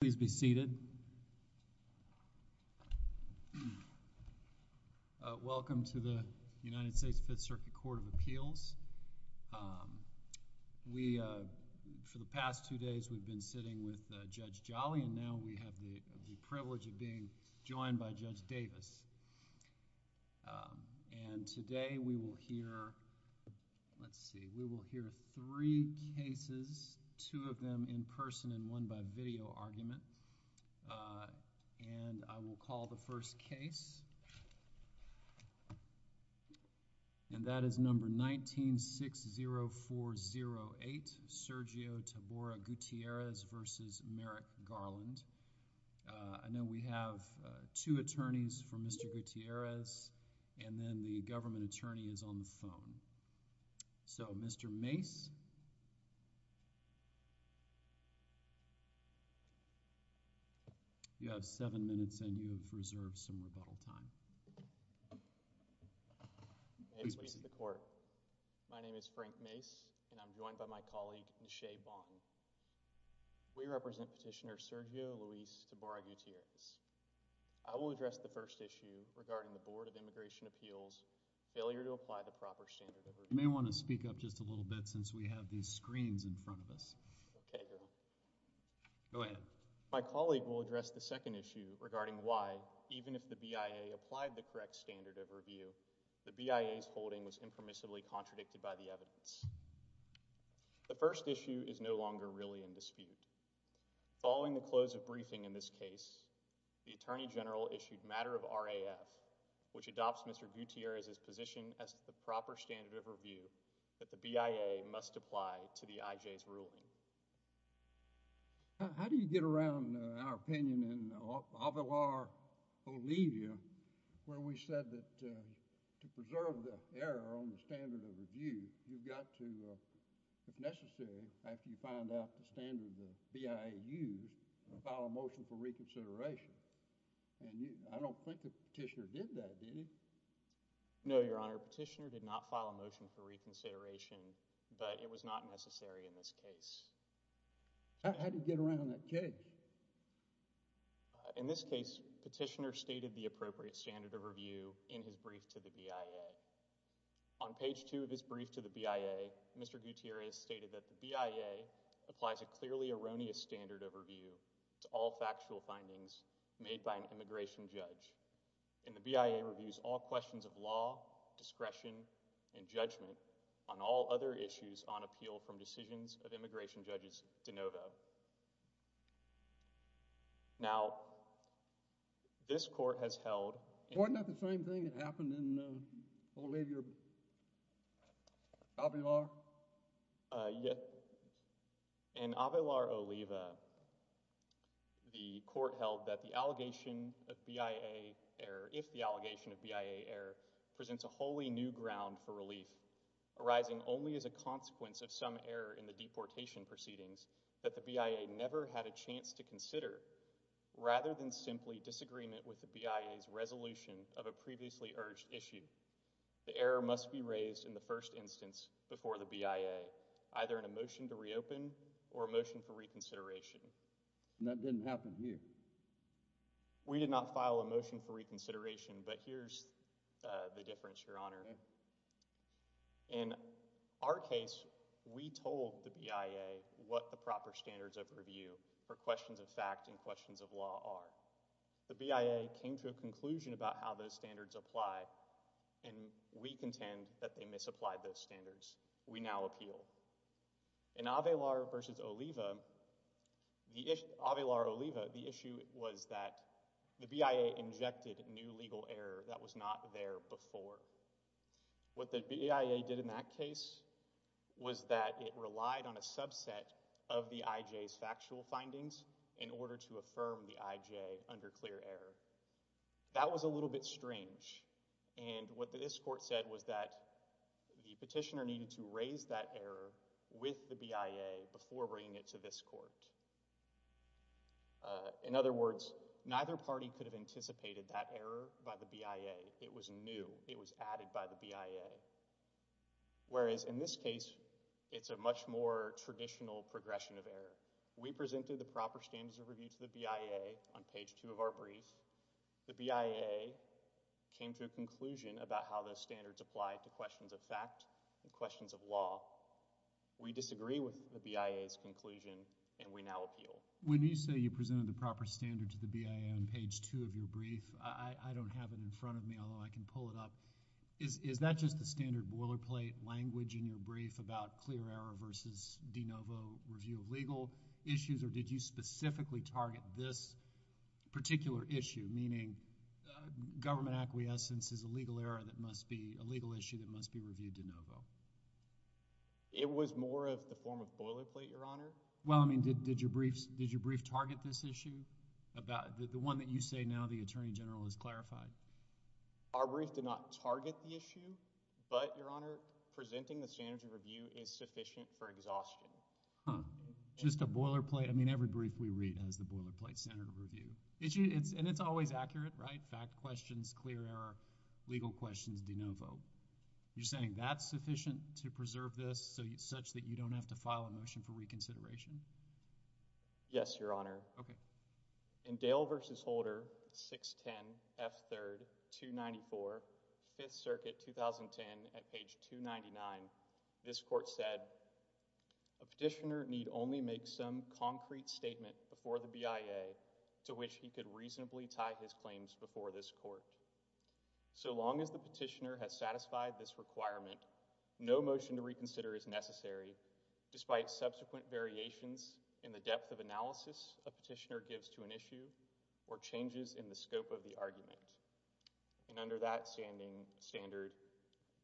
Please be seated. Welcome to the United States Fifth Circuit Court of Appeals. We, for the past two days, we've been sitting with Judge Jolly, and now we have the privilege of being joined by Judge Davis. And today we will hear, let's see, we will hear three cases, two of them in person and one by video argument. And I will call the first case, and that is number 1960408, Sergio Tabora Gutierrez v. Merrick Garland. I know we have two attorneys for Mr. Gutierrez, and then the government attorney is on the phone. So, Mr. Mace, you have seven minutes and you have reserved some rebuttal time. My name is Frank Mace, and I'm joined by my colleague N'Shea Bond. We represent Petitioner Sergio Luis Tabora Gutierrez. I will address the first issue regarding the Board of Immigration Appeals' failure to apply the proper standard of review. You may want to speak up just a little bit since we have these screens in front of us. Okay, Garland. Go ahead. My colleague will address the second issue regarding why, even if the BIA applied the correct standard of review, the BIA's holding was impermissibly contradicted by the evidence. The first issue is no longer really in dispute. Following the close of briefing in this case, the Attorney General issued matter of RAF, which adopts Mr. Gutierrez's position as to the proper standard of review that the BIA must apply to the IJ's ruling. How do you get around our opinion in Avalar, Bolivia, where we said that to preserve the error on the standard of review, you've got to, if necessary, after you find out the standard the BIA used, file a motion for reconsideration? I don't think Petitioner did that, did he? No, Your Honor. Petitioner did not file a motion for reconsideration, but it was not necessary in this case. How did he get around that case? In this case, Petitioner stated the appropriate standard of review in his brief to the BIA. On page two of his brief to the BIA, Mr. Gutierrez stated that the BIA applies a clearly erroneous standard of review to all factual findings made by an immigration judge, and the BIA reviews all questions of law, discretion, and judgment on all other issues on appeal from decisions of immigration judges de novo. Now, this court has held— Wasn't that the same thing that happened in Bolivia? Avalar? Yes. In Avalar, Oliva, the court held that the allegation of BIA error, if the allegation of BIA error, presents a wholly new ground for relief, arising only as a consequence of some error in the deportation proceedings that the BIA never had a chance to consider, rather than simply disagreement with the BIA's resolution of a previously urged issue. The error must be raised in the first instance before the BIA, either in a motion to reopen or a motion for reconsideration. That didn't happen here. We did not file a motion for reconsideration, but here's the difference, Your Honor. In our case, we told the BIA what the proper standards of review for questions of fact and of law are. The BIA came to a conclusion about how those standards apply, and we contend that they misapplied those standards. We now appeal. In Avalar v. Oliva, the issue was that the BIA injected new legal error that was not there before. What the BIA did in that case was that it relied on a subset of the IJ's factual findings in order to affirm the IJ under clear error. That was a little bit strange, and what this court said was that the petitioner needed to raise that error with the BIA before bringing it to this court. In other words, neither party could have anticipated that error by the BIA. It was new. It was added by the BIA. Whereas in this case, it's a much more traditional progression of error. We presented the proper standards of review to the BIA on page 2 of our brief. The BIA came to a conclusion about how those standards apply to questions of fact and questions of law. We disagree with the BIA's conclusion, and we now appeal. When you say you presented the proper standard to the BIA on page 2 of your brief, I don't have it in front of me, although I can pull it up. Is that just the standard boilerplate language in your brief about clear error versus de novo review of legal issues, or did you specifically target this particular issue, meaning government acquiescence is a legal error that must be a legal issue that must be reviewed de novo? It was more of the form of boilerplate, Your Honor. Well, I mean, did your brief target this issue? The one that you say now the Attorney General has clarified. Our brief did not target the issue, but, Your Honor, presenting the standards of review is sufficient for exhaustion. Huh. Just a boilerplate. I mean, every brief we read has the boilerplate standard of review. And it's always accurate, right? Fact questions, clear error, legal questions de novo. You're saying that's sufficient to preserve this such that you don't have to file a motion for reconsideration? Yes, Your Honor. Okay. In Dale v. Holder, 610 F. 3rd, 294, 5th Circuit, 2010, at page 299, this court said, a petitioner need only make some concrete statement before the BIA to which he could reasonably tie his claims before this court. So long as the petitioner has satisfied this requirement, no motion to reconsider is necessary, despite subsequent variations in the depth of analysis a petitioner gives to an issue or changes in the scope of the argument. And under that standing standard,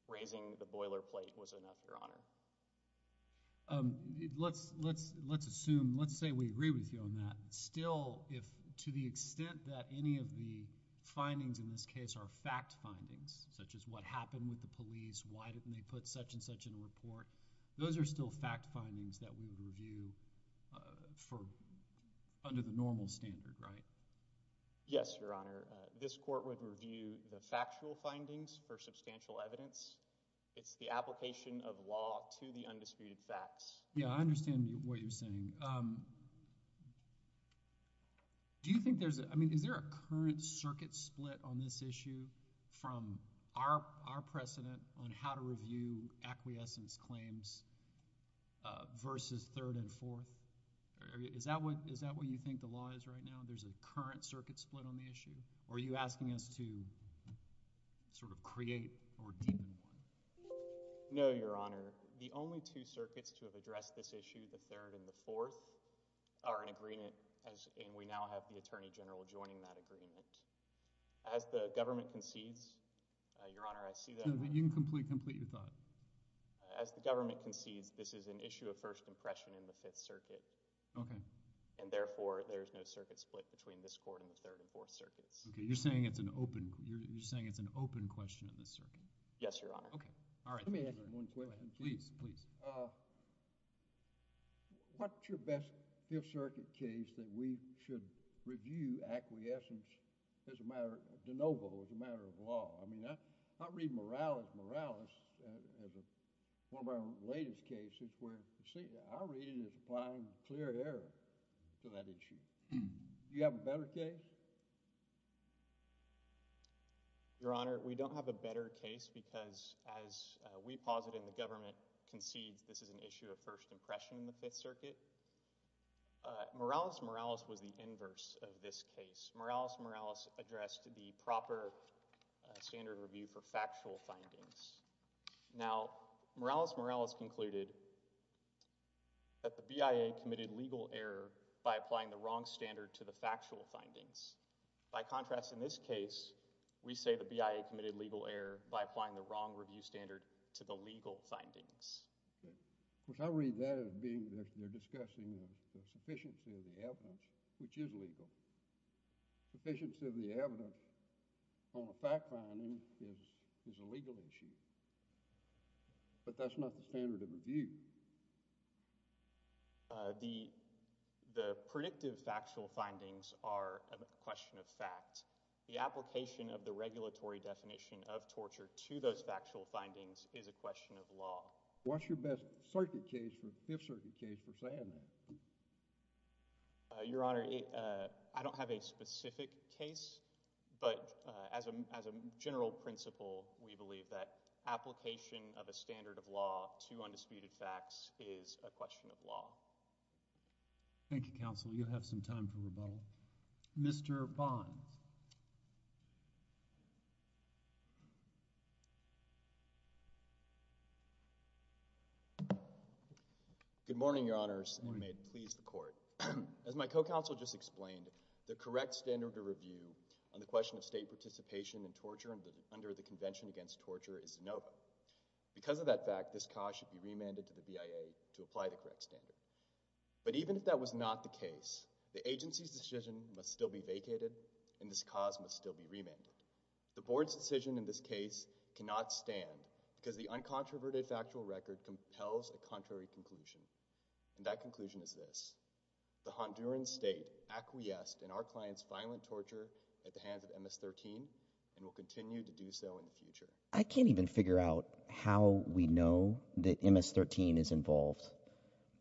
raising the boilerplate was enough, Your Honor. Let's assume, let's say we agree with you on that. Still, if to the extent that any of the findings in this case are fact findings, such as what happened with the police, why didn't they put such and such in a report, those are still fact findings that we would review for, under the normal standard, right? Yes, Your Honor. This court would review the factual findings for substantial evidence. It's the application of law to the undisputed facts. Yeah, I understand what you're saying. Do you think there's, I mean, is there a current circuit split on this issue from our precedent on how to review acquiescence claims versus third and fourth? Is that what you think the law is right now? There's a current circuit split on the issue? Or are you asking us to sort of create or deepen one? No, Your Honor. The only two circuits to have addressed this issue, the third and the fourth, are in agreement, and we now have the Attorney General joining that agreement. As the government concedes, Your Honor, I see that. You can complete your thought. As the government concedes, this is an issue of first impression in the Fifth Circuit. Okay. And therefore, there's no circuit split between this court and the third and fourth circuits. Okay, you're saying it's an open, you're saying it's an open question in this circuit? Yes, Your Honor. Okay, all right. Let me ask you one question. Please, please. What's your best Fifth Circuit case that we should review acquiescence as a matter, de novo, as a matter of law? I mean, I read Morales as one of our latest cases where our reading is applying clear error to that issue. Do you have a better case? Your Honor, we don't have a better case because, as we posit and the government concedes, this is an issue of first impression in the Fifth Circuit. Morales, Morales was the inverse of this case. Morales, Morales addressed the proper standard review for factual findings. Now, Morales, Morales concluded that the BIA committed legal error by applying the wrong standard to the factual findings. By contrast, in this case, we say the BIA committed legal error by applying the wrong review standard to the legal findings. Okay, which I read that as being, they're discussing the sufficiency of the evidence, which is legal. Sufficiency of the evidence on the fact finding is a legal issue, but that's not the standard of review. The predictive factual findings are a question of fact. The application of the regulatory definition of torture to those factual findings is a question of law. What's your best circuit case, Fifth Circuit case, for saying that? Your Honor, I don't have a specific case, but as a general principle, we believe that application of a standard of law to undisputed facts is a question of law. Thank you, Counsel. You'll have some time for rebuttal. Mr. Bonds. Good morning, Your Honors, and may it please the Court. As my co-counsel just explained, the correct standard of review on the question of state participation in torture under the BIA should be remanded to the BIA to apply the correct standard. But even if that was not the case, the agency's decision must still be vacated and this cause must still be remanded. The Board's decision in this case cannot stand because the uncontroverted factual record compels a contrary conclusion, and that conclusion is this. The Honduran state acquiesced in our client's violent torture at the hands of MS-13 and will continue to do so in the future. I can't even figure out how we know that MS-13 is involved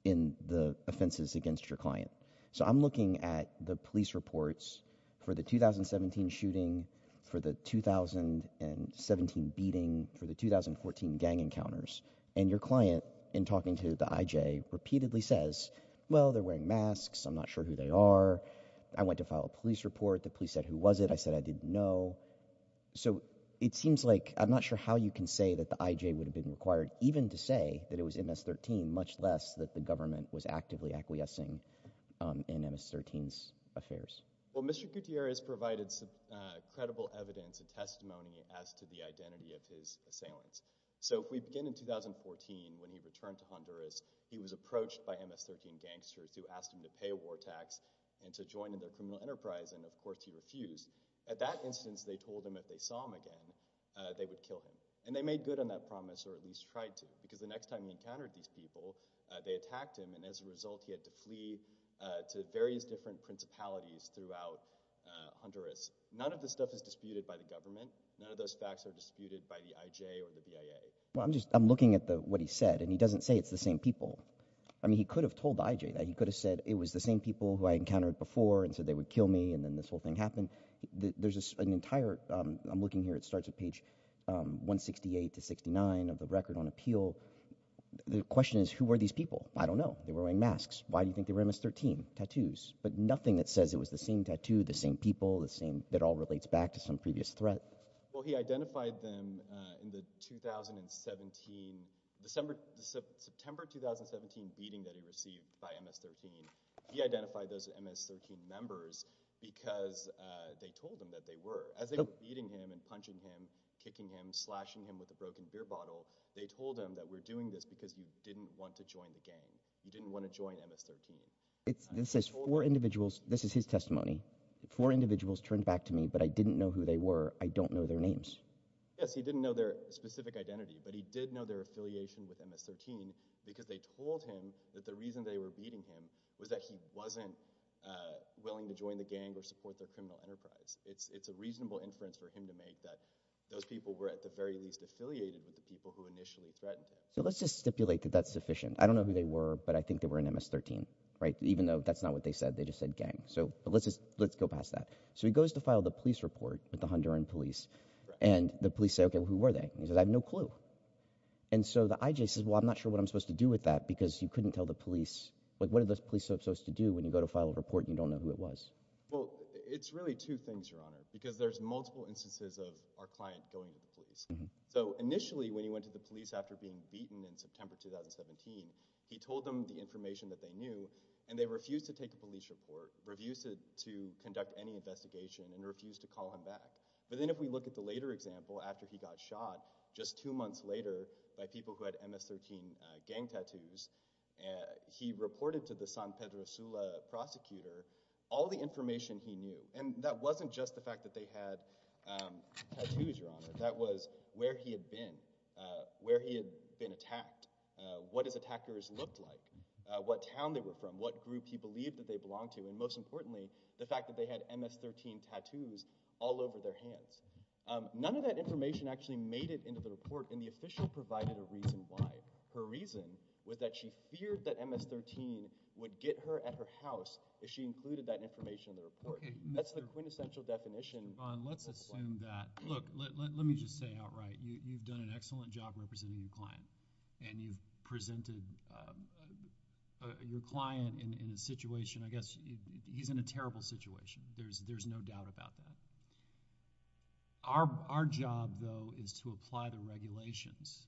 in the offenses against your client. So I'm looking at the police reports for the 2017 shooting, for the 2017 beating, for the 2014 gang encounters, and your client, in talking to the IJ, repeatedly says, well, they're wearing masks, I'm not sure who they are. I went to file a police report. The police said, who was it? I said I didn't know. So it seems like I'm not sure how you can say that the IJ would have been required even to say that it was MS-13, much less that the government was actively acquiescing in MS-13's affairs. Well, Mr. Gutierrez provided some credible evidence and testimony as to the identity of his assailants. So if we begin in 2014, when he returned to Honduras, he was approached by MS-13 gangsters who asked him to pay a war tax and to join in their criminal enterprise, and of course he refused. At that instance, they told him if they saw him again, they would kill him. And they made good on that promise, or at least tried to, because the next time he encountered these people, they attacked him, and as a result, he had to flee to various different principalities throughout Honduras. None of this stuff is disputed by the government. None of those facts are disputed by the IJ or the BIA. Well, I'm just, I'm looking at what he said, and he doesn't say it's the same people. I mean, he could have told the IJ that. He could have said it was the same people who encountered before and said they would kill me, and then this whole thing happened. There's an entire, I'm looking here, it starts at page 168 to 169 of the record on appeal. The question is, who were these people? I don't know. They were wearing masks. Why do you think they were MS-13 tattoos? But nothing that says it was the same tattoo, the same people, the same, that all relates back to some previous threat. Well, he identified them in the 2017, December, September 2017 beating that he received by MS-13. He identified those MS-13 members because they told him that they were. As they were beating him and punching him, kicking him, slashing him with a broken beer bottle, they told him that we're doing this because you didn't want to join the gang. You didn't want to join MS-13. This is four individuals, this is his testimony. Four individuals turned back to me, but I didn't know who they were. I don't know their names. Yes, he didn't know their specific identity, but he did know their affiliation with MS-13 because they told him that the reason they were beating him was that he wasn't willing to join the gang or support their criminal enterprise. It's a reasonable inference for him to make that those people were at the very least affiliated with the people who initially threatened him. So let's just stipulate that that's sufficient. I don't know who they were, but I think they were in MS-13, right? Even though that's not what they said, they just said gang. So let's just, let's go past that. So he goes to file the police report with the Honduran police and the police say, okay, well, who were they? And he says, I have no clue. And so the IJ says, well, I'm not sure what I'm supposed to do with that because you couldn't tell the police, like what are those police supposed to do when you go to file a report and you don't know who it was? Well, it's really two things, Your Honor, because there's multiple instances of our client going to the police. So initially when he went to the police after being beaten in September, 2017, he told them the information that they knew and they refused to take a police report, refused to conduct any investigation and refused to call him back. But then if we look at the later example, after he got shot just two months later by people who had MS-13 gang tattoos, he reported to the San Pedro Sula prosecutor all the information he knew. And that wasn't just the fact that they had tattoos, Your Honor. That was where he had been, where he had been attacked, what his attackers looked like, what town they were from, what group he believed that they belonged to. And most importantly, the fact that they had MS-13 tattoos all over their hands. None of that information actually made it into the report and the official provided a reason why. Her reason was that she feared that MS-13 would get her at her house if she included that information in the report. That's the quintessential definition. Okay, Mr. Vaughn, let's assume that, look, let me just say outright, you've done an excellent job representing your client and you've presented your client in a situation, I guess, he's in a situation. Our job, though, is to apply the regulations.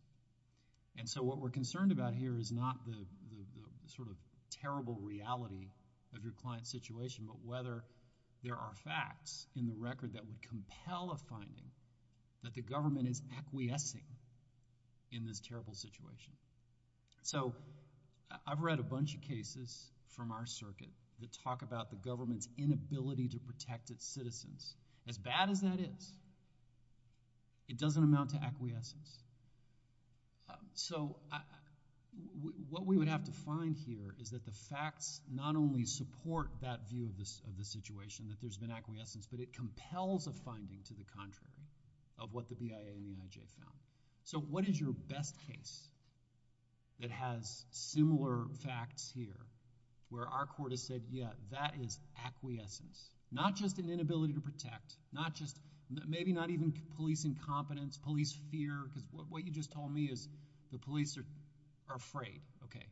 And so, what we're concerned about here is not the sort of terrible reality of your client's situation, but whether there are facts in the record that would compel a finding that the government is acquiescing in this terrible situation. So, I've read a bunch of cases from our circuit that talk about the government's inability to protect its citizens. As bad as that is, it doesn't amount to acquiescence. So, what we would have to find here is that the facts not only support that view of the situation, that there's been acquiescence, but it compels a finding to the contrary of what the BIA and the IJ found. So, what is your best case that has similar facts here where our court has said, yeah, that is acquiescence, not just an inability to protect, not just, maybe not even police incompetence, police fear, because what you just told me is the police are afraid. Okay.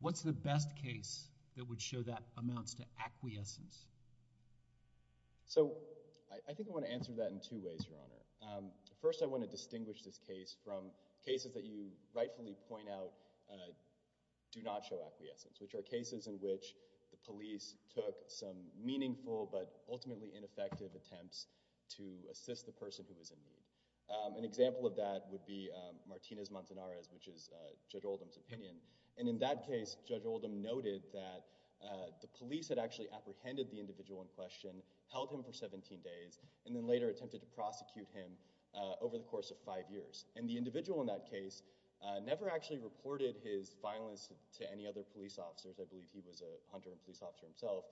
What's the best case that would show that amounts to acquiescence? So, I think I want to answer that in two ways, Your Honor. First, I want to distinguish this from cases that you rightfully point out do not show acquiescence, which are cases in which the police took some meaningful, but ultimately ineffective attempts to assist the person who was in need. An example of that would be Martinez-Montanares, which is Judge Oldham's opinion. And in that case, Judge Oldham noted that the police had actually apprehended the individual in question, held him for 17 days, and then later attempted to prosecute him over the course of five years. And the individual in that case never actually reported his violence to any other police officers. I believe he was a hunter and police officer himself.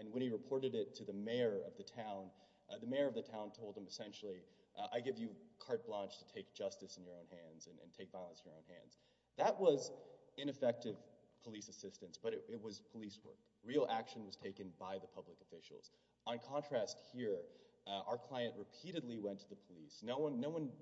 And when he reported it to the mayor of the town, the mayor of the town told him essentially, I give you carte blanche to take justice in your own hands and take violence in your own hands. That was ineffective police assistance, but it was police work. Real action was taken by the police. No one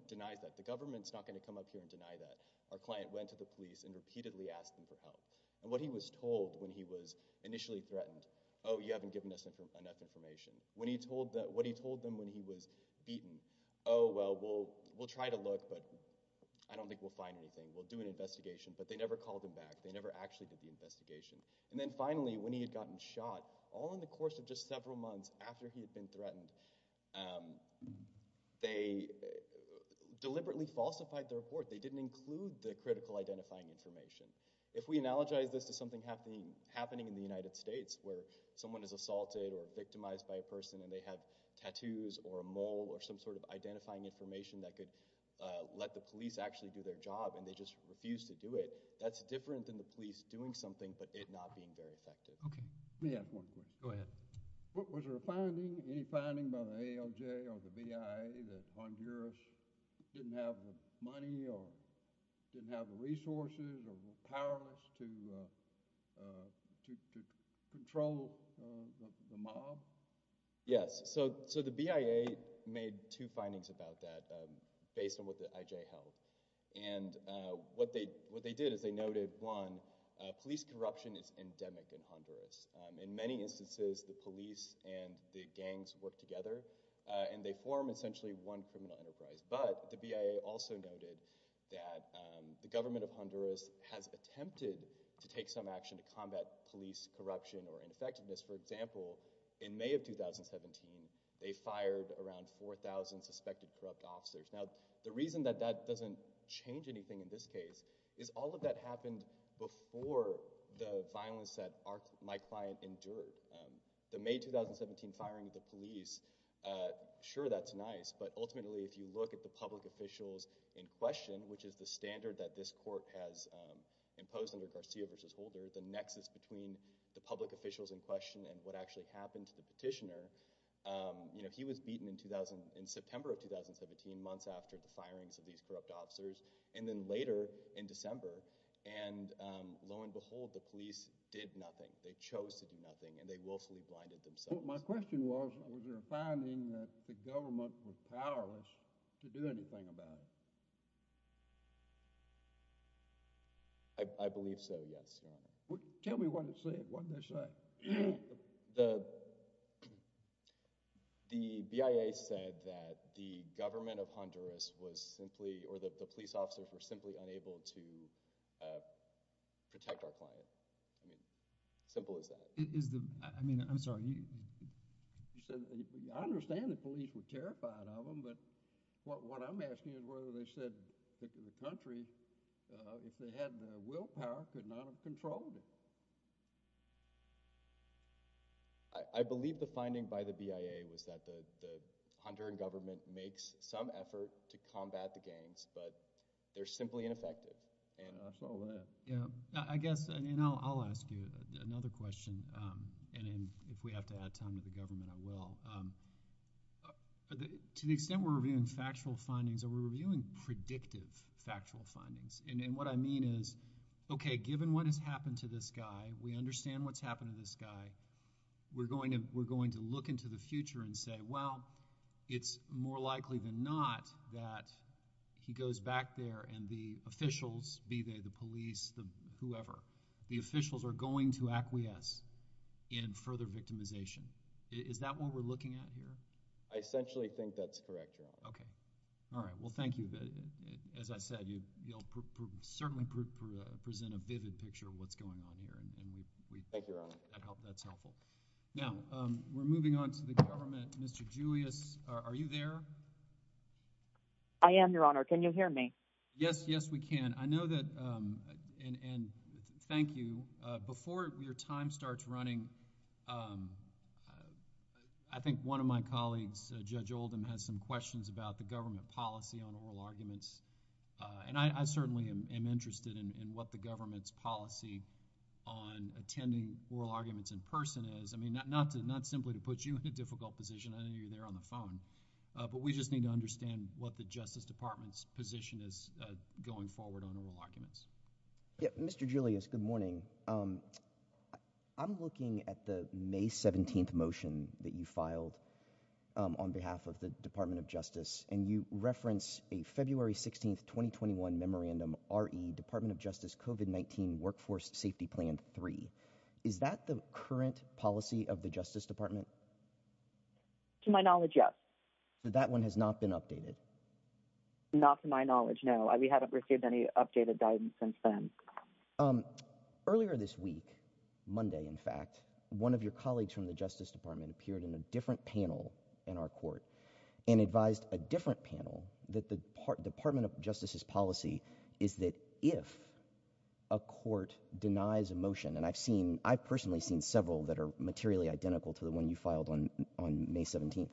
denies that. The government's not going to come up here and deny that. Our client went to the police and repeatedly asked them for help. And what he was told when he was initially threatened, oh, you haven't given us enough information. What he told them when he was beaten, oh, well, we'll try to look, but I don't think we'll find anything. We'll do an investigation. But they never called him back. They never actually did the investigation. And then finally, when he had gotten shot, all in the course of just several months after he had been threatened, they deliberately falsified the report. They didn't include the critical identifying information. If we analogize this to something happening in the United States where someone is assaulted or victimized by a person and they have tattoos or a mole or some sort of identifying information that could let the police actually do their job and they just refuse to do it, that's different than the police doing something but it not being very effective. Let me ask one question. Go ahead. Was there a finding, any finding by the ALJ or the BIA that Honduras didn't have the money or didn't have the resources or the powers to control the mob? Yes. So the BIA made two findings about that based on what the IJ held. And what they did is they noted, one, police corruption is endemic in Honduras. In many instances, the police and the gangs work together and they form essentially one criminal enterprise. But the BIA also noted that the government of Honduras has attempted to take some action to combat police corruption or ineffectiveness. For example, in May of 2017, they fired around 4,000 suspected corrupt officers. Now, the reason that that doesn't change anything in this case is all of that happened before the violence that my client endured. The May 2017 firing of the police, sure that's nice, but ultimately if you look at the public officials in question, which is the standard that this court has imposed under Garcia versus Holder, the nexus between the public officials in question and what actually happened to the petitioner, you know, he was beaten in September of 2017, months after the firings of these corrupt officers. And then later in December, and lo and behold, the police did nothing. They chose to do nothing and they willfully blinded themselves. My question was, was there a finding that the government was powerless to do anything about it? I believe so, yes. Tell me what it said, what did they say? The BIA said that the government of Honduras was simply, or that the police officers were simply unable to protect our client. I mean, simple as that. Is the, I mean, I'm sorry, you said, I understand the police were terrified of them, but what I'm asking is whether they said that the country, if they had the willpower, could not have controlled it? I believe the finding by the BIA was that the Honduran government makes some effort to combat the gangs, but they're simply ineffective. Yeah, I saw that. Yeah, I guess, and you know, I'll ask you another question, and if we have to add time to the factual findings, are we reviewing predictive factual findings? And what I mean is, okay, given what has happened to this guy, we understand what's happened to this guy, we're going to look into the future and say, well, it's more likely than not that he goes back there and the officials, be they the police, whoever, the officials are going to acquiesce in further victimization. Is that what we're looking at here? I essentially think that's correct, Your Honor. Okay. All right. Well, thank you. As I said, you'll certainly present a vivid picture of what's going on here. Thank you, Your Honor. That's helpful. Now, we're moving on to the government. Mr. Julius, are you there? I am, Your Honor. Can you hear me? Yes, yes, we can. I know that, and thank you. Before your time starts running, I think one of my colleagues, Judge Oldham, has some questions about the government policy on oral arguments, and I certainly am interested in what the government's policy on attending oral arguments in person is. I mean, not simply to put you in a difficult position. I know you're there on the phone, but we just need to understand what the Justice Department's position is going forward on oral arguments. Mr. Julius, good morning. Good morning. I'm looking at the May 17th motion that you filed on behalf of the Department of Justice, and you reference a February 16th, 2021 memorandum, i.e., Department of Justice COVID-19 Workforce Safety Plan 3. Is that the current policy of the Justice Department? To my knowledge, yes. That one has not been updated? Not to my knowledge, no. We haven't received any updated guidance since then. Um, earlier this week, Monday, in fact, one of your colleagues from the Justice Department appeared in a different panel in our court and advised a different panel that the Department of Justice's policy is that if a court denies a motion, and I've seen, I've personally seen several that are materially identical to the one you filed on May 17th,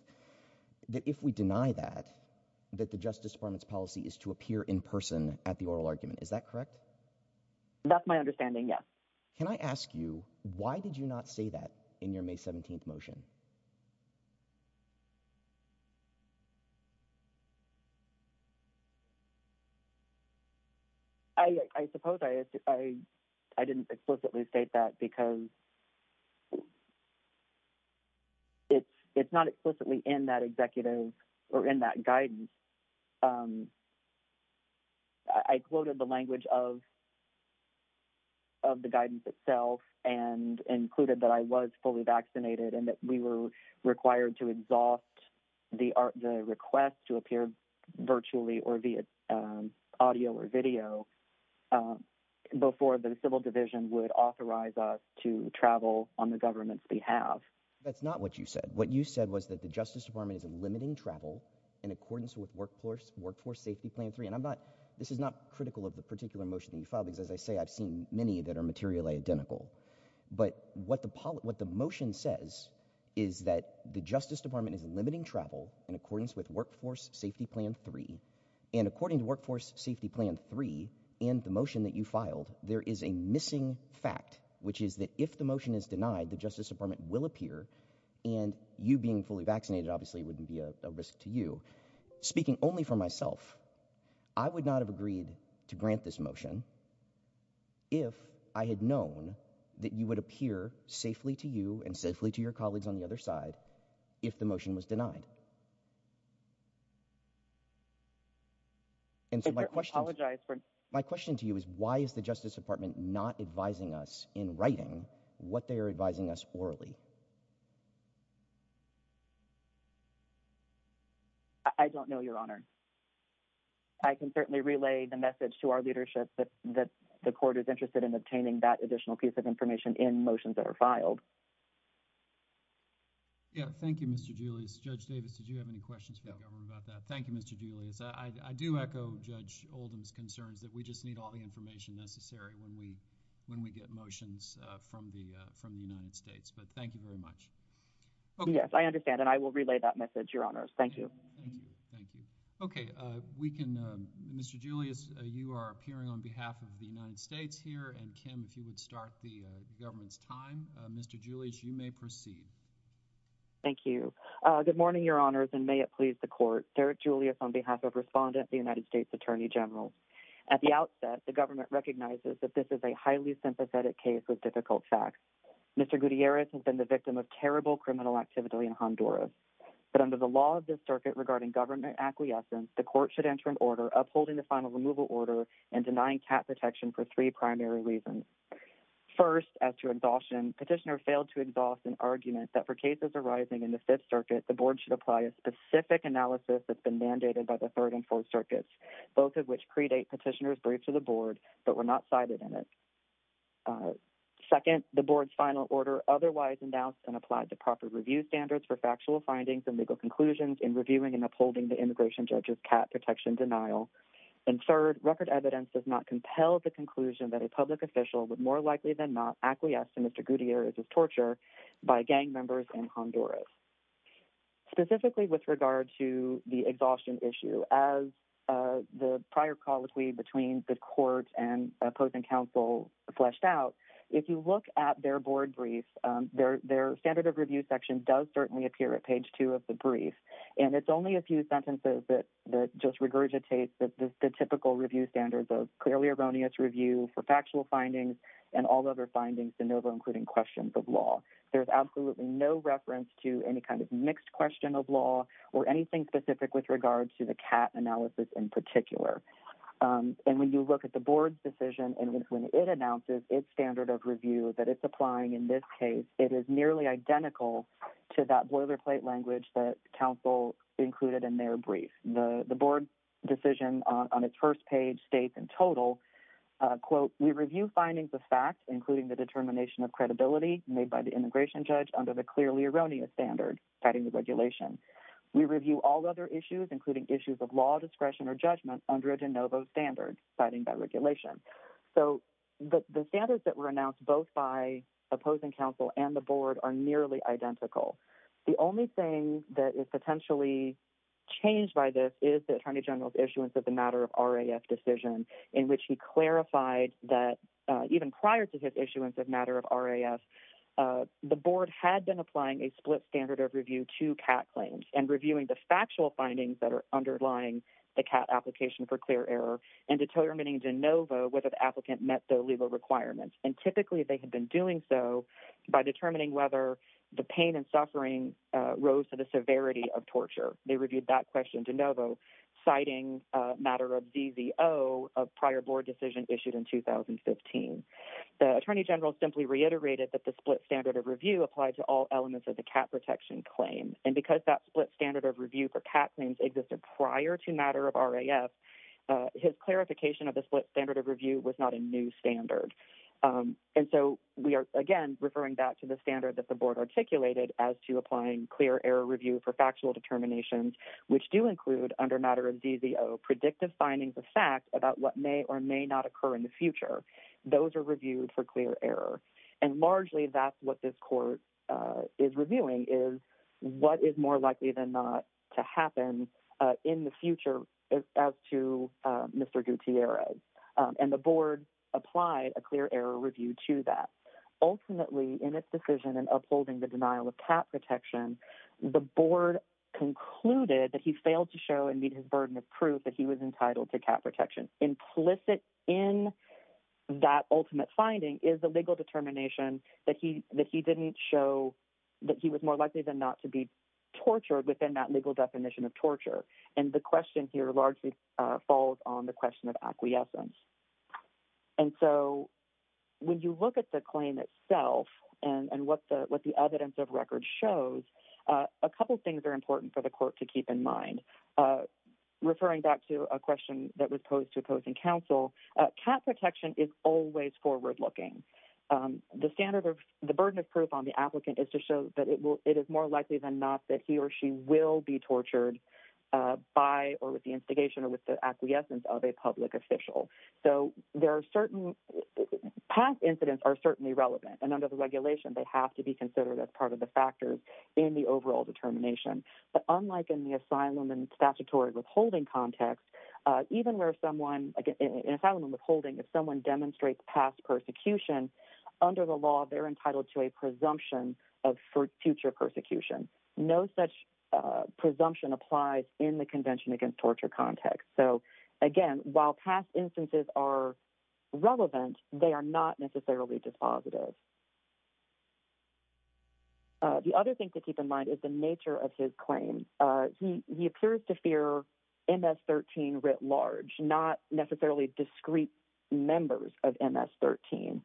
that if we deny that, that the Justice Department's policy is to appear in person at the oral argument. Is that correct? That's my understanding, yes. Can I ask you, why did you not say that in your May 17th motion? I, I suppose I, I, I didn't explicitly state that because it's, it's not explicitly in that executive or in that guidance. Um, I, I quoted the language of, of the guidance itself and included that I was fully vaccinated and that we were required to exhaust the art, the request to appear virtually or via, um, audio or video, um, before the civil division would authorize us to travel on the government's behalf. That's not what you said. What you said was that the Justice Department is limiting travel in accordance with workforce, workforce safety plan three. And I'm not, this is not critical of the particular motion that you filed because as I say, I've seen many that are materially identical, but what the, what the motion says is that the Justice Department is limiting travel in accordance with workforce safety plan three. And according to workforce safety plan three and the motion that you filed, there is a missing fact, which is that if the motion is denied, the Justice Department will appear and you being fully vaccinated, obviously it wouldn't be a risk to you. Speaking only for myself, I would not have agreed to grant this motion if I had known that you would appear safely to you and safely to your colleagues on the other side, if the motion was denied. And so my question, my question to you is why is the Justice Department not advising us in writing what they are advising us orally? I don't know your honor. I can certainly relay the message to our leadership that the court is interested in obtaining that additional piece of information in motions that are filed. Yeah. Thank you, Mr. Julius. Judge Davis, did you have any questions for the government about that? Thank you, Mr. Julius. I do echo judge Oldham's concerns that we just need all the information necessary when we when we get motions from the from the United States. But thank you very much. Yes, I understand. And I will relay that message, your honors. Thank you. Thank you. Thank you. OK, we can. Mr. Julius, you are appearing on behalf of the United States here. And Kim, if you would start the government's time, Mr. Julius, you may proceed. Thank you. Good morning, your honors. And may it please the court, Derek Julius, on behalf of Respondent, the United States Attorney General. At the outset, the government recognizes that this is a highly sympathetic case with difficult facts. Mr. Gutierrez has been the victim of terrible criminal activity in Honduras. But under the law of this circuit regarding government acquiescence, the court should enter an order upholding the final removal order and denying cap protection for three primary reasons. First, as to exhaustion, petitioner failed to exhaust an argument that for cases arising in the Fifth Circuit, the board should apply a specific analysis that's been mandated by the Third and Fourth Circuits, both of which predate petitioner's brief to the board, but were not cited in it. Second, the board's final order otherwise announced and applied to proper review standards for factual findings and legal conclusions in reviewing and upholding the immigration judge's cap protection denial. And third, record evidence does not compel the conclusion that a public official would more likely than not acquiesce to Mr. Gutierrez's torture by gang members in Honduras. Specifically with regard to the exhaustion issue, as the prior colloquy between the court and opposing counsel fleshed out, if you look at their board brief, their standard of review section does certainly appear at page two of the brief. And it's only a few sentences that just regurgitates the typical review standards of clearly erroneous review for factual findings and all other findings de novo, including questions of law. There's absolutely no reference to any kind of mixed question of law or anything specific with regard to the cap analysis in particular. And when you look at the board's decision and when it announces its standard of review that it's applying in this case, it is nearly identical to that boilerplate language that counsel included in their brief. The board's decision on its first page states in total, quote, we review findings of fact, including the determination of credibility made by the immigration judge under the clearly erroneous standard citing the regulation. We review all other issues, including issues of law discretion or judgment under a de novo standard citing that regulation. So, the standards that were announced both by opposing counsel and the board are nearly identical. The only thing that is potentially changed by this is the in which he clarified that even prior to his issuance of matter of RAF, the board had been applying a split standard of review to CAT claims and reviewing the factual findings that are underlying the CAT application for clear error and determining de novo whether the applicant met the legal requirements. And typically, they had been doing so by determining whether the pain and suffering rose to the severity of torture. They reviewed that question de novo, citing matter of ZZO, a prior board decision issued in 2015. The Attorney General simply reiterated that the split standard of review applied to all elements of the CAT protection claim. And because that split standard of review for CAT claims existed prior to matter of RAF, his clarification of the split standard of review was not a new standard. And so, we are, again, referring back to the standard that the board articulated as to applying clear error review for factual determinations, which do include under matter of ZZO, predictive findings of fact about what may or may not occur in the future. Those are reviewed for clear error. And largely, that's what this court is reviewing is what is more likely than not to happen in the future as to Mr. Gutierrez. And the board applied a clear error review to that. Ultimately, in its decision in upholding the denial of CAT protection, the board concluded that he failed to show and meet his burden of proof that he was entitled to CAT protection. Implicit in that ultimate finding is the legal determination that he didn't show that he was more likely than not to be tortured within that legal definition of torture. And the question here largely falls on the question of acquiescence. And so, when you look at the claim itself and what the evidence of record shows, a couple things are important for the court to keep in mind. Referring back to a question that was posed to opposing counsel, CAT protection is always forward looking. The standard of the burden of proof on the applicant is to show that it is more likely than not that he or she will be tortured by or with the instigation or with the acquiescence of a public official. So, past incidents are certainly relevant. And under the regulation, they have to be considered as part of the factors in the overall determination. But unlike in the asylum and statutory withholding context, even where someone, in asylum and withholding, if someone demonstrates past persecution, under the law, they're entitled to a presumption of future persecution. No such presumption applies in the Convention Against Torture context. So, again, while past instances are relevant, they are not necessarily dispositive. The other thing to keep in mind is the nature of his claim. He appears to fear MS-13 writ large, not necessarily discreet members of MS-13.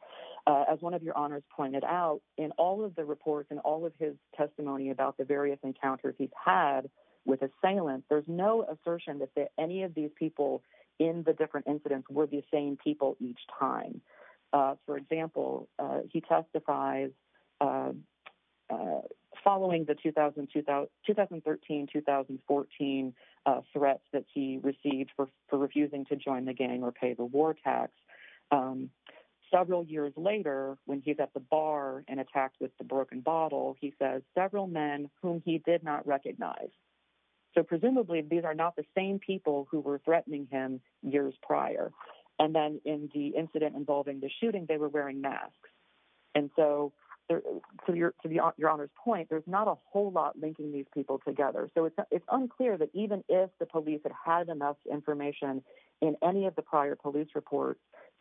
As one of your honors pointed out, in all of the reports and all of his testimony about the various encounters he's had with assailants, there's no assertion that any of these people in the different incidents were the same people each time. For example, he testifies following the 2013-2014 threats that he received for refusing to join the gang or pay the war tax. Several years later, when he's at the bar and attacked with the broken bottle, he says, several men whom he did not recognize. So presumably, these are not the same people who were threatening him years prior. And then in the incident involving the shooting, they were wearing masks. And so, to your honor's point, there's not a whole lot linking these people together. So it's unclear that even if the police had had enough information in any of the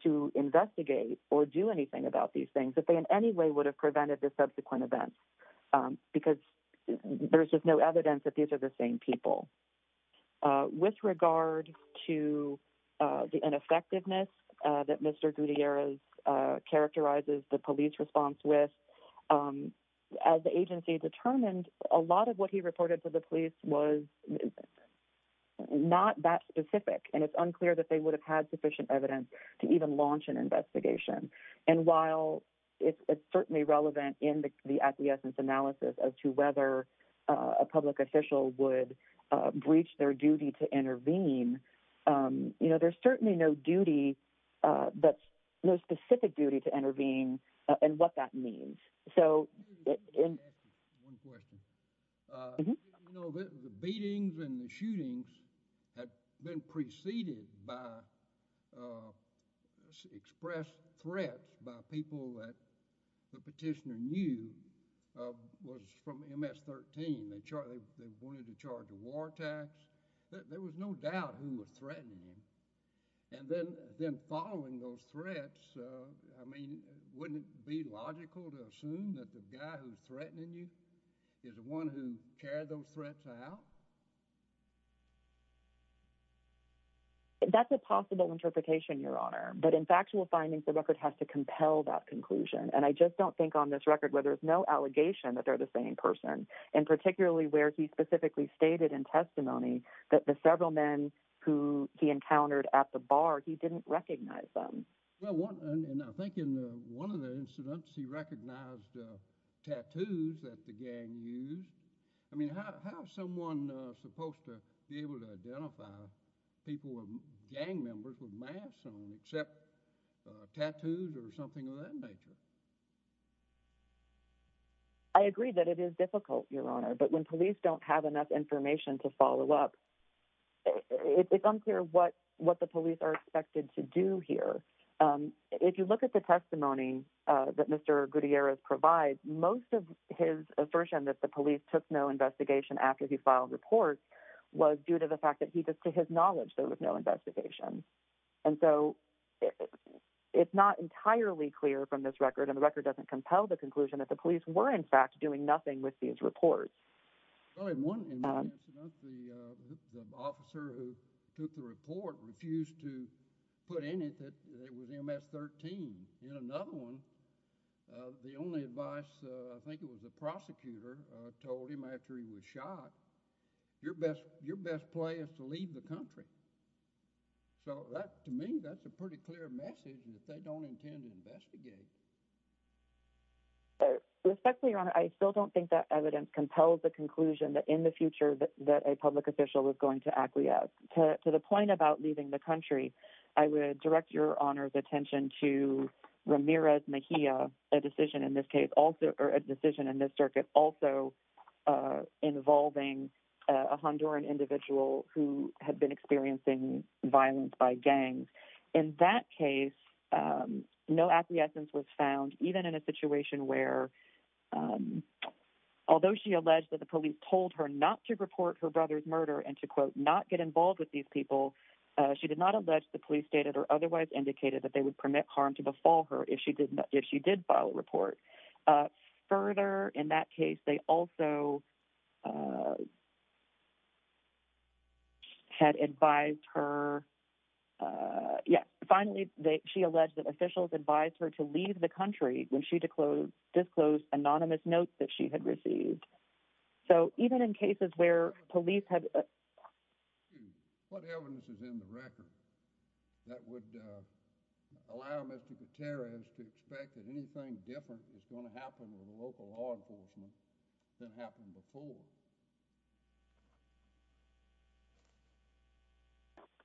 to investigate or do anything about these things, that they in any way would have prevented the subsequent events, because there's just no evidence that these are the same people. With regard to the ineffectiveness that Mr. Gutierrez characterizes the police response with, as the agency determined, a lot of what he reported to the police was not that specific. And it's unclear that they would have had sufficient evidence to even launch an investigation. And while it's certainly relevant in the acquiescence analysis as to whether a public official would breach their duty to intervene, there's certainly no duty, no specific duty to intervene and what that means. So in— Can I just ask you one question? Mm-hmm. Did you know that the beatings and the shootings had been preceded by expressed threats by people that the petitioner knew was from MS-13? They wanted to charge a war tax. There was no doubt who was threatening him. And then following those threats, I mean, wouldn't it be logical to assume that the guy who's threatening you is the one who carried those threats out? That's a possible interpretation, Your Honor. But in factual findings, the record has to compel that conclusion. And I just don't think on this record where there's no allegation that they're the same person, and particularly where he specifically stated in testimony that the several men who he encountered at the bar, he didn't recognize them. Well, and I think in one of the incidents, he recognized tattoos that the gang used. I mean, how is someone supposed to be able to identify people with gang members with masks on except tattoos or something of that nature? I agree that it is difficult, Your Honor. But when police don't have enough information to follow up, it's unclear what the police are expected to do here. If you look at the testimony that Mr. Gutierrez provides, most of his assertion that the police took no investigation after he filed reports was due to the fact that he just, to his knowledge, there was no investigation. And so it's not entirely clear from this record, and the record doesn't compel the conclusion that the police were, in fact, doing nothing with these reports. Well, in one incident, the officer who took the report refused to put in it that it was MS-13. In another one, the only advice, I think it was the prosecutor, told him after he was shot, your best play is to leave the country. So that, to me, that's a pretty clear message that they don't intend to investigate. Respectfully, Your Honor, I still don't think that evidence compels the conclusion that in the future that a public official is going to acquiesce. To the point about leaving the country, I would direct Your Honor's attention to Ramirez Mejia, a decision in this case, or a decision in this circuit also involving a Honduran individual who had been experiencing violence by gangs. In that case, no acquiescence was found, even in a situation where, although she alleged that the police told her not to report her brother's murder and to, quote, not get involved with these people, she did not allege the police stated or otherwise indicated that they would permit harm to befall her if she did file a report. Further, in that case, she alleged that officials advised her to leave the country when she disclosed anonymous notes that she had received. So even in cases where police have... What evidence is in the record that would allow Mr. Gutierrez to expect that anything different is going to happen with local law enforcement than happened before?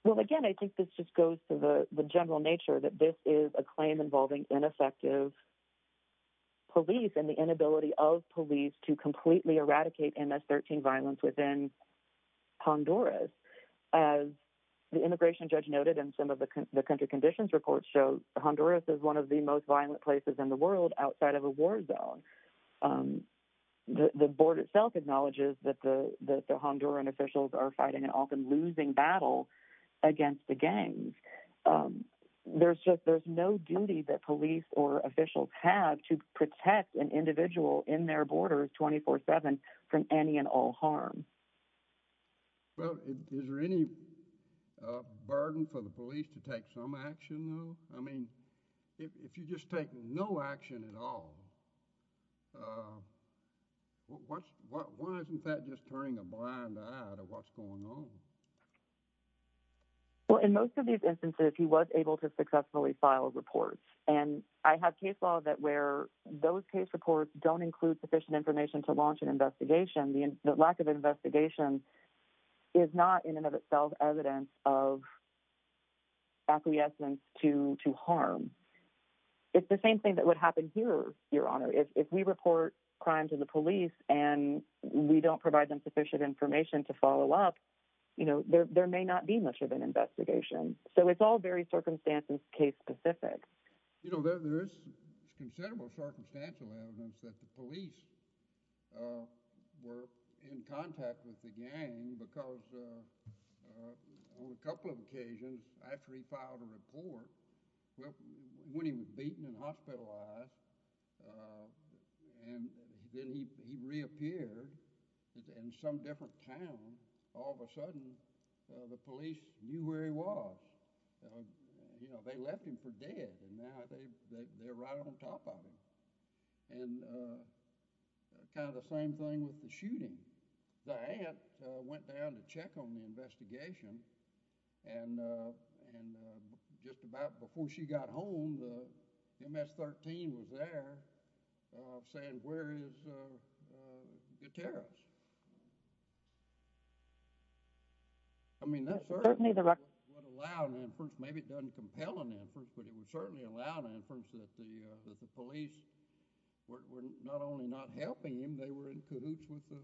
Well, again, I think this just goes to the general nature that this is a claim involving ineffective police and the inability of police to completely eradicate MS-13 violence within Honduras. As the immigration judge noted in some of the country conditions reports show, Honduras is one of the most violent places in the world outside of a war zone. The board itself acknowledges that the Honduran officials are fighting an often losing battle against the gangs. There's no duty that police or officials have to protect an individual in their borders 24-7 from any and all harm. Well, is there any burden for the police to take some action, though? I mean, if you just take no action at all, why isn't that just turning a blind eye to what's going on? Well, in most of these instances, he was able to successfully file a report. And I have case law that where those case reports don't include sufficient information to launch an investigation, the lack of investigation is not in and of itself evidence of acquiescence to harm. It's the same thing that would happen here, Your Honor. If we report crime to the police and we provide them sufficient information to follow up, there may not be much of an investigation. So it's all very circumstances case specific. There is considerable circumstantial evidence that the police were in contact with the gang because on a couple of occasions after he filed a report, when he was beaten and hospitalized, and then he reappeared in some different town, all of a sudden the police knew where he was. You know, they left him for dead, and now they're right on top of him. And kind of the same thing with the shooting. The aunt went down to check on the investigation, and just about before she got home, the MS-13 was there saying, where is Gutierrez? I mean, that certainly would allow an inference. Maybe it doesn't compel an inference, but it would certainly allow an inference that the police were not helping him. They were in cahoots with the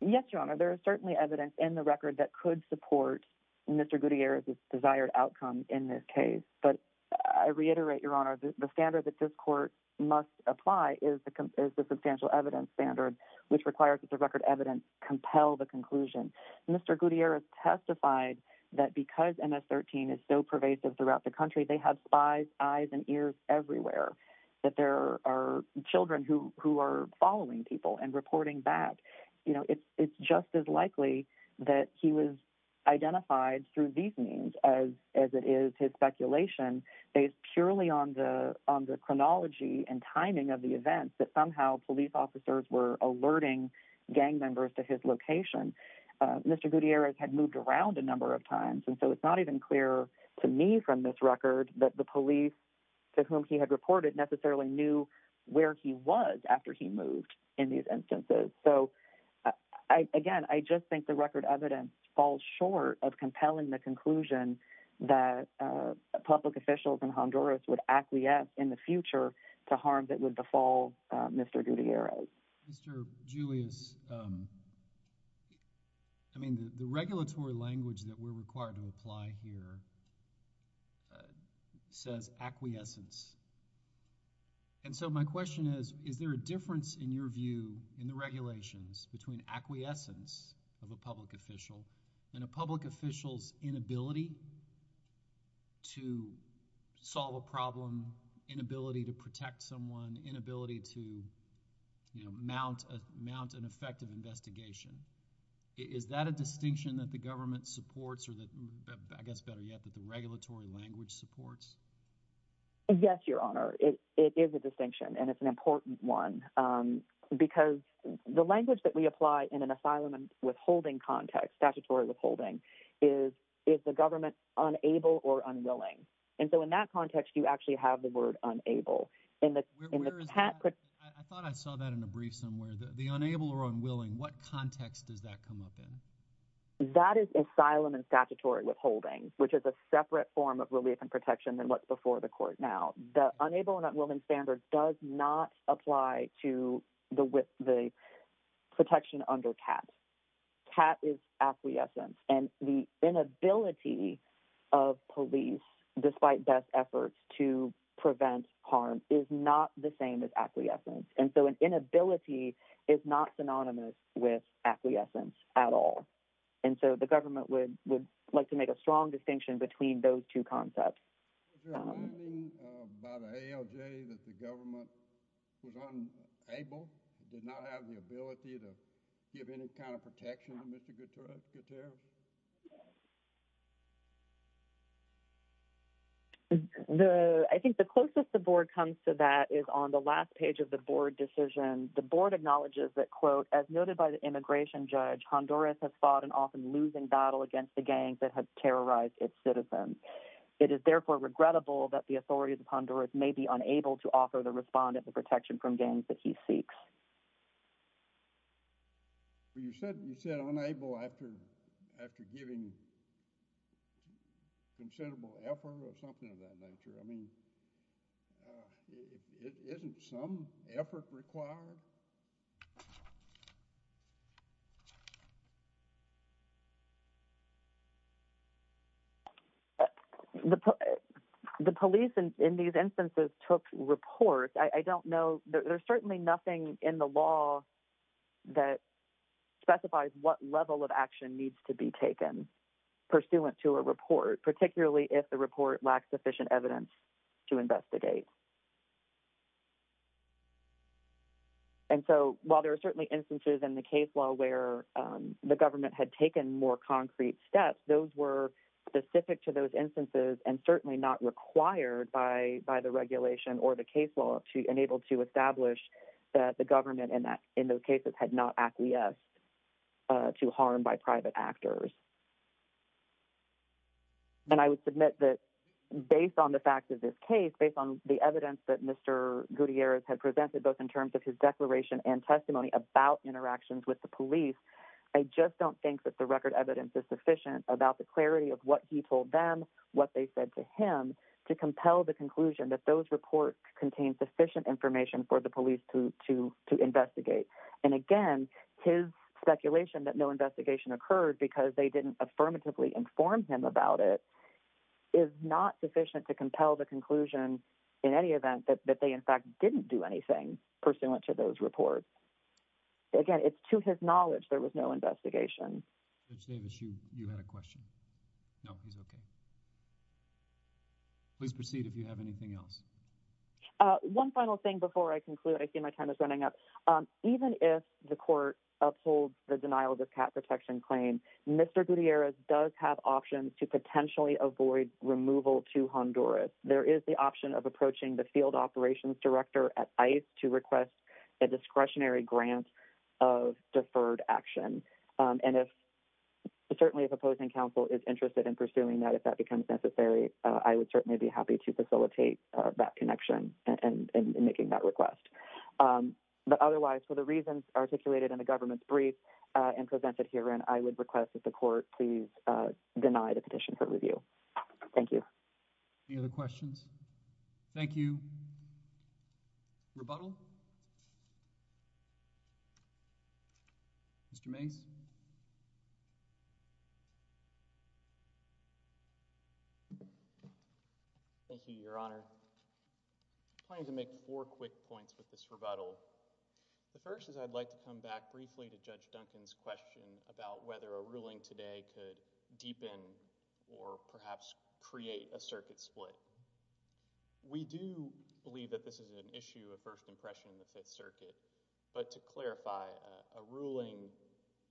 gang. Yes, Your Honor. There is certainly evidence in the record that could support Mr. Gutierrez's desired outcome in this case. But I reiterate, Your Honor, the standard that this court must apply is the substantial evidence standard, which requires that the record evidence compel the conclusion. Mr. Gutierrez testified that because MS-13 is so pervasive throughout the that there are children who are following people and reporting that, you know, it's just as likely that he was identified through these means as it is his speculation based purely on the chronology and timing of the events that somehow police officers were alerting gang members to his location. Mr. Gutierrez had moved around a number of times, and so it's not even clear to me from this record that the police to whom he had reported necessarily knew where he was after he moved in these instances. So, again, I just think the record evidence falls short of compelling the conclusion that public officials in Honduras would acquiesce in the future to harm that would befall Mr. Gutierrez. Mr. Julius, I mean, the regulatory language that we're required to apply here says acquiescence. And so my question is, is there a difference in your view in the regulations between acquiescence of a public official and a public official's inability to solve a problem, inability to protect someone, inability to, you know, mount an effective investigation? Is that a distinction that the government supports or that, I guess better yet, that the regulatory language supports? Yes, Your Honor. It is a distinction, and it's an important one because the language that we apply in an asylum and withholding context, statutory withholding, is the government unable or I thought I saw that in a brief somewhere. The unable or unwilling, what context does that come up in? That is asylum and statutory withholding, which is a separate form of relief and protection than what's before the court now. The unable and unwilling standard does not apply to the protection under CAT. CAT is acquiescence, and the inability of police, despite best efforts, to prevent harm is not the same as acquiescence. And so an inability is not synonymous with acquiescence at all. And so the government would like to make a strong distinction between those two concepts. Was there a finding by the ALJ that the government was unable, did not have the I think the closest the board comes to that is on the last page of the board decision. The board acknowledges that, quote, as noted by the immigration judge, Honduras has fought an often losing battle against the gangs that have terrorized its citizens. It is therefore regrettable that the authorities of Honduras may be unable to offer the respondent the protection from gangs that he seeks. Well, you said you said unable after after giving considerable effort or something of that nature. I mean, isn't some effort required? The police in these instances took reports. I don't know. There's certainly nothing in the law that specifies what level of action needs to be taken pursuant to a report, particularly if the report lacks sufficient evidence to investigate. And so while there are certainly instances in the case law where the government had taken more concrete steps, those were specific to those instances and certainly not required by the regulation or the case law to enable to establish that the government in those cases had not acquiesced to harm by private actors. And I would submit that based on the evidence that Mr. Gutierrez had presented, both in terms of his declaration and testimony about interactions with the police, I just don't think that the record evidence is sufficient about the clarity of what he told them, what they said to him, to compel the conclusion that those reports contain sufficient information for the police to investigate. And again, his speculation that no investigation occurred because they didn't affirmatively inform him about it is not to compel the conclusion in any event that they in fact didn't do anything pursuant to those reports. Again, it's to his knowledge there was no investigation. Judge Davis, you had a question. No, he's okay. Please proceed if you have anything else. One final thing before I conclude. I see my time is running up. Even if the court upholds the denial of this cat protection claim, Mr. Gutierrez does have options to There is the option of approaching the field operations director at ICE to request a discretionary grant of deferred action. And certainly if a opposing counsel is interested in pursuing that, if that becomes necessary, I would certainly be happy to facilitate that connection and making that request. But otherwise, for the reasons articulated in the government's brief and presented herein, I would request that the court please deny the petition for review. Thank you. Any other questions? Thank you. Rebuttal? Mr. Mase? Thank you, Your Honor. I plan to make four quick points with this rebuttal. The first is I'd like to come back briefly to Judge Duncan's question about whether a ruling today could deepen or perhaps create a circuit split. We do believe that this is an issue of first impression in the Fifth Circuit, but to clarify, a ruling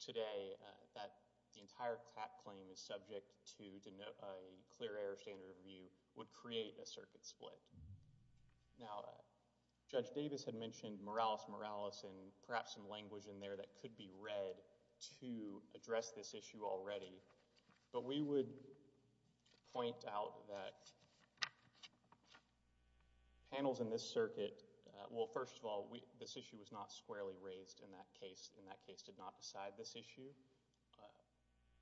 today that the entire cat claim is subject to a clear error standard of review would create a circuit split. Now, Judge Davis had mentioned moralis moralis and perhaps some language in there that could be read to address this issue already, but we would point out that panels in this circuit, well, first of all, this issue was not squarely raised in that case, and that case did not decide this issue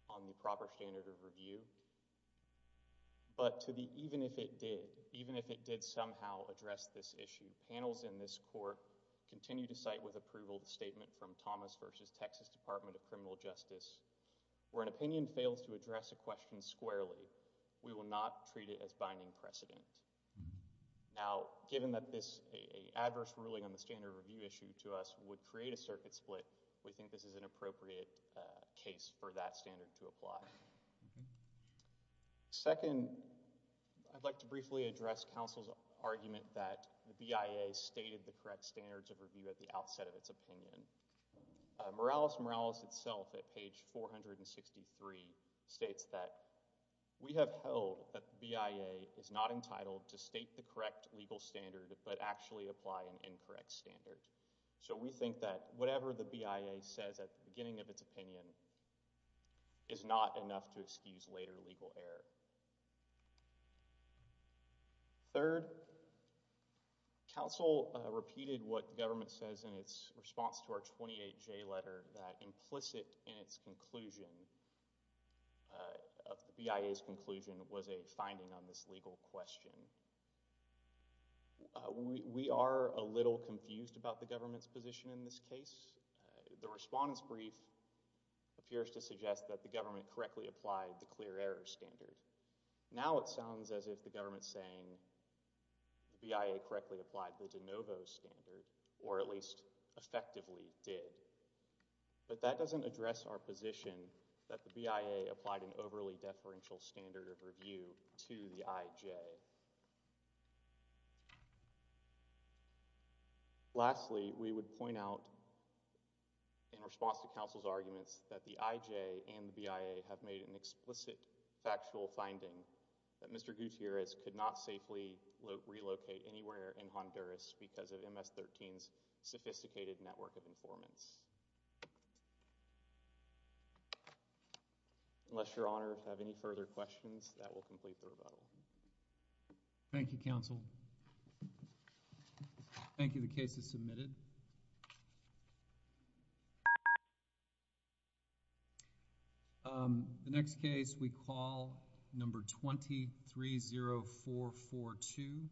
on the proper standard of review. But to the even if it did, even if it did somehow address this issue, panels in this court continue to cite with approval the statement from Thomas v. Texas Department of Criminal Justice, where an opinion fails to address a question squarely, we will not treat it as binding precedent. Now, given that this adverse ruling on the standard of review issue to us would create a circuit split, we think this is an appropriate case for that standard to apply. Second, I'd like to briefly address counsel's argument that the BIA stated the correct standards of review at the outset of its opinion. Moralis moralis itself at page 463 states that we have held that the BIA is not entitled to state the correct legal standard but actually apply an incorrect standard. So we think that whatever the BIA says at the beginning of its opinion is not enough to excuse later legal error. Third, counsel repeated what the government says in its response to our 28J letter that implicit in its conclusion, of the BIA's conclusion, was a finding on this legal question. We are a little confused about the government's position in this case. The respondent's brief appears to suggest that the government correctly applied the clear error standard. Now it sounds as if the government's saying the BIA correctly applied the de novo standard or at least effectively did. But that doesn't address our position that the BIA applied an overly deferential standard of review to the IJ. Lastly, we would point out in response to the BIA's actual finding that Mr. Gutierrez could not safely relocate anywhere in Honduras because of MS-13's sophisticated network of informants. Unless your honor have any further questions that will complete the rebuttal. Thank you counsel. Thank you. The case is submitted. Thank you. The next case we call number 230442.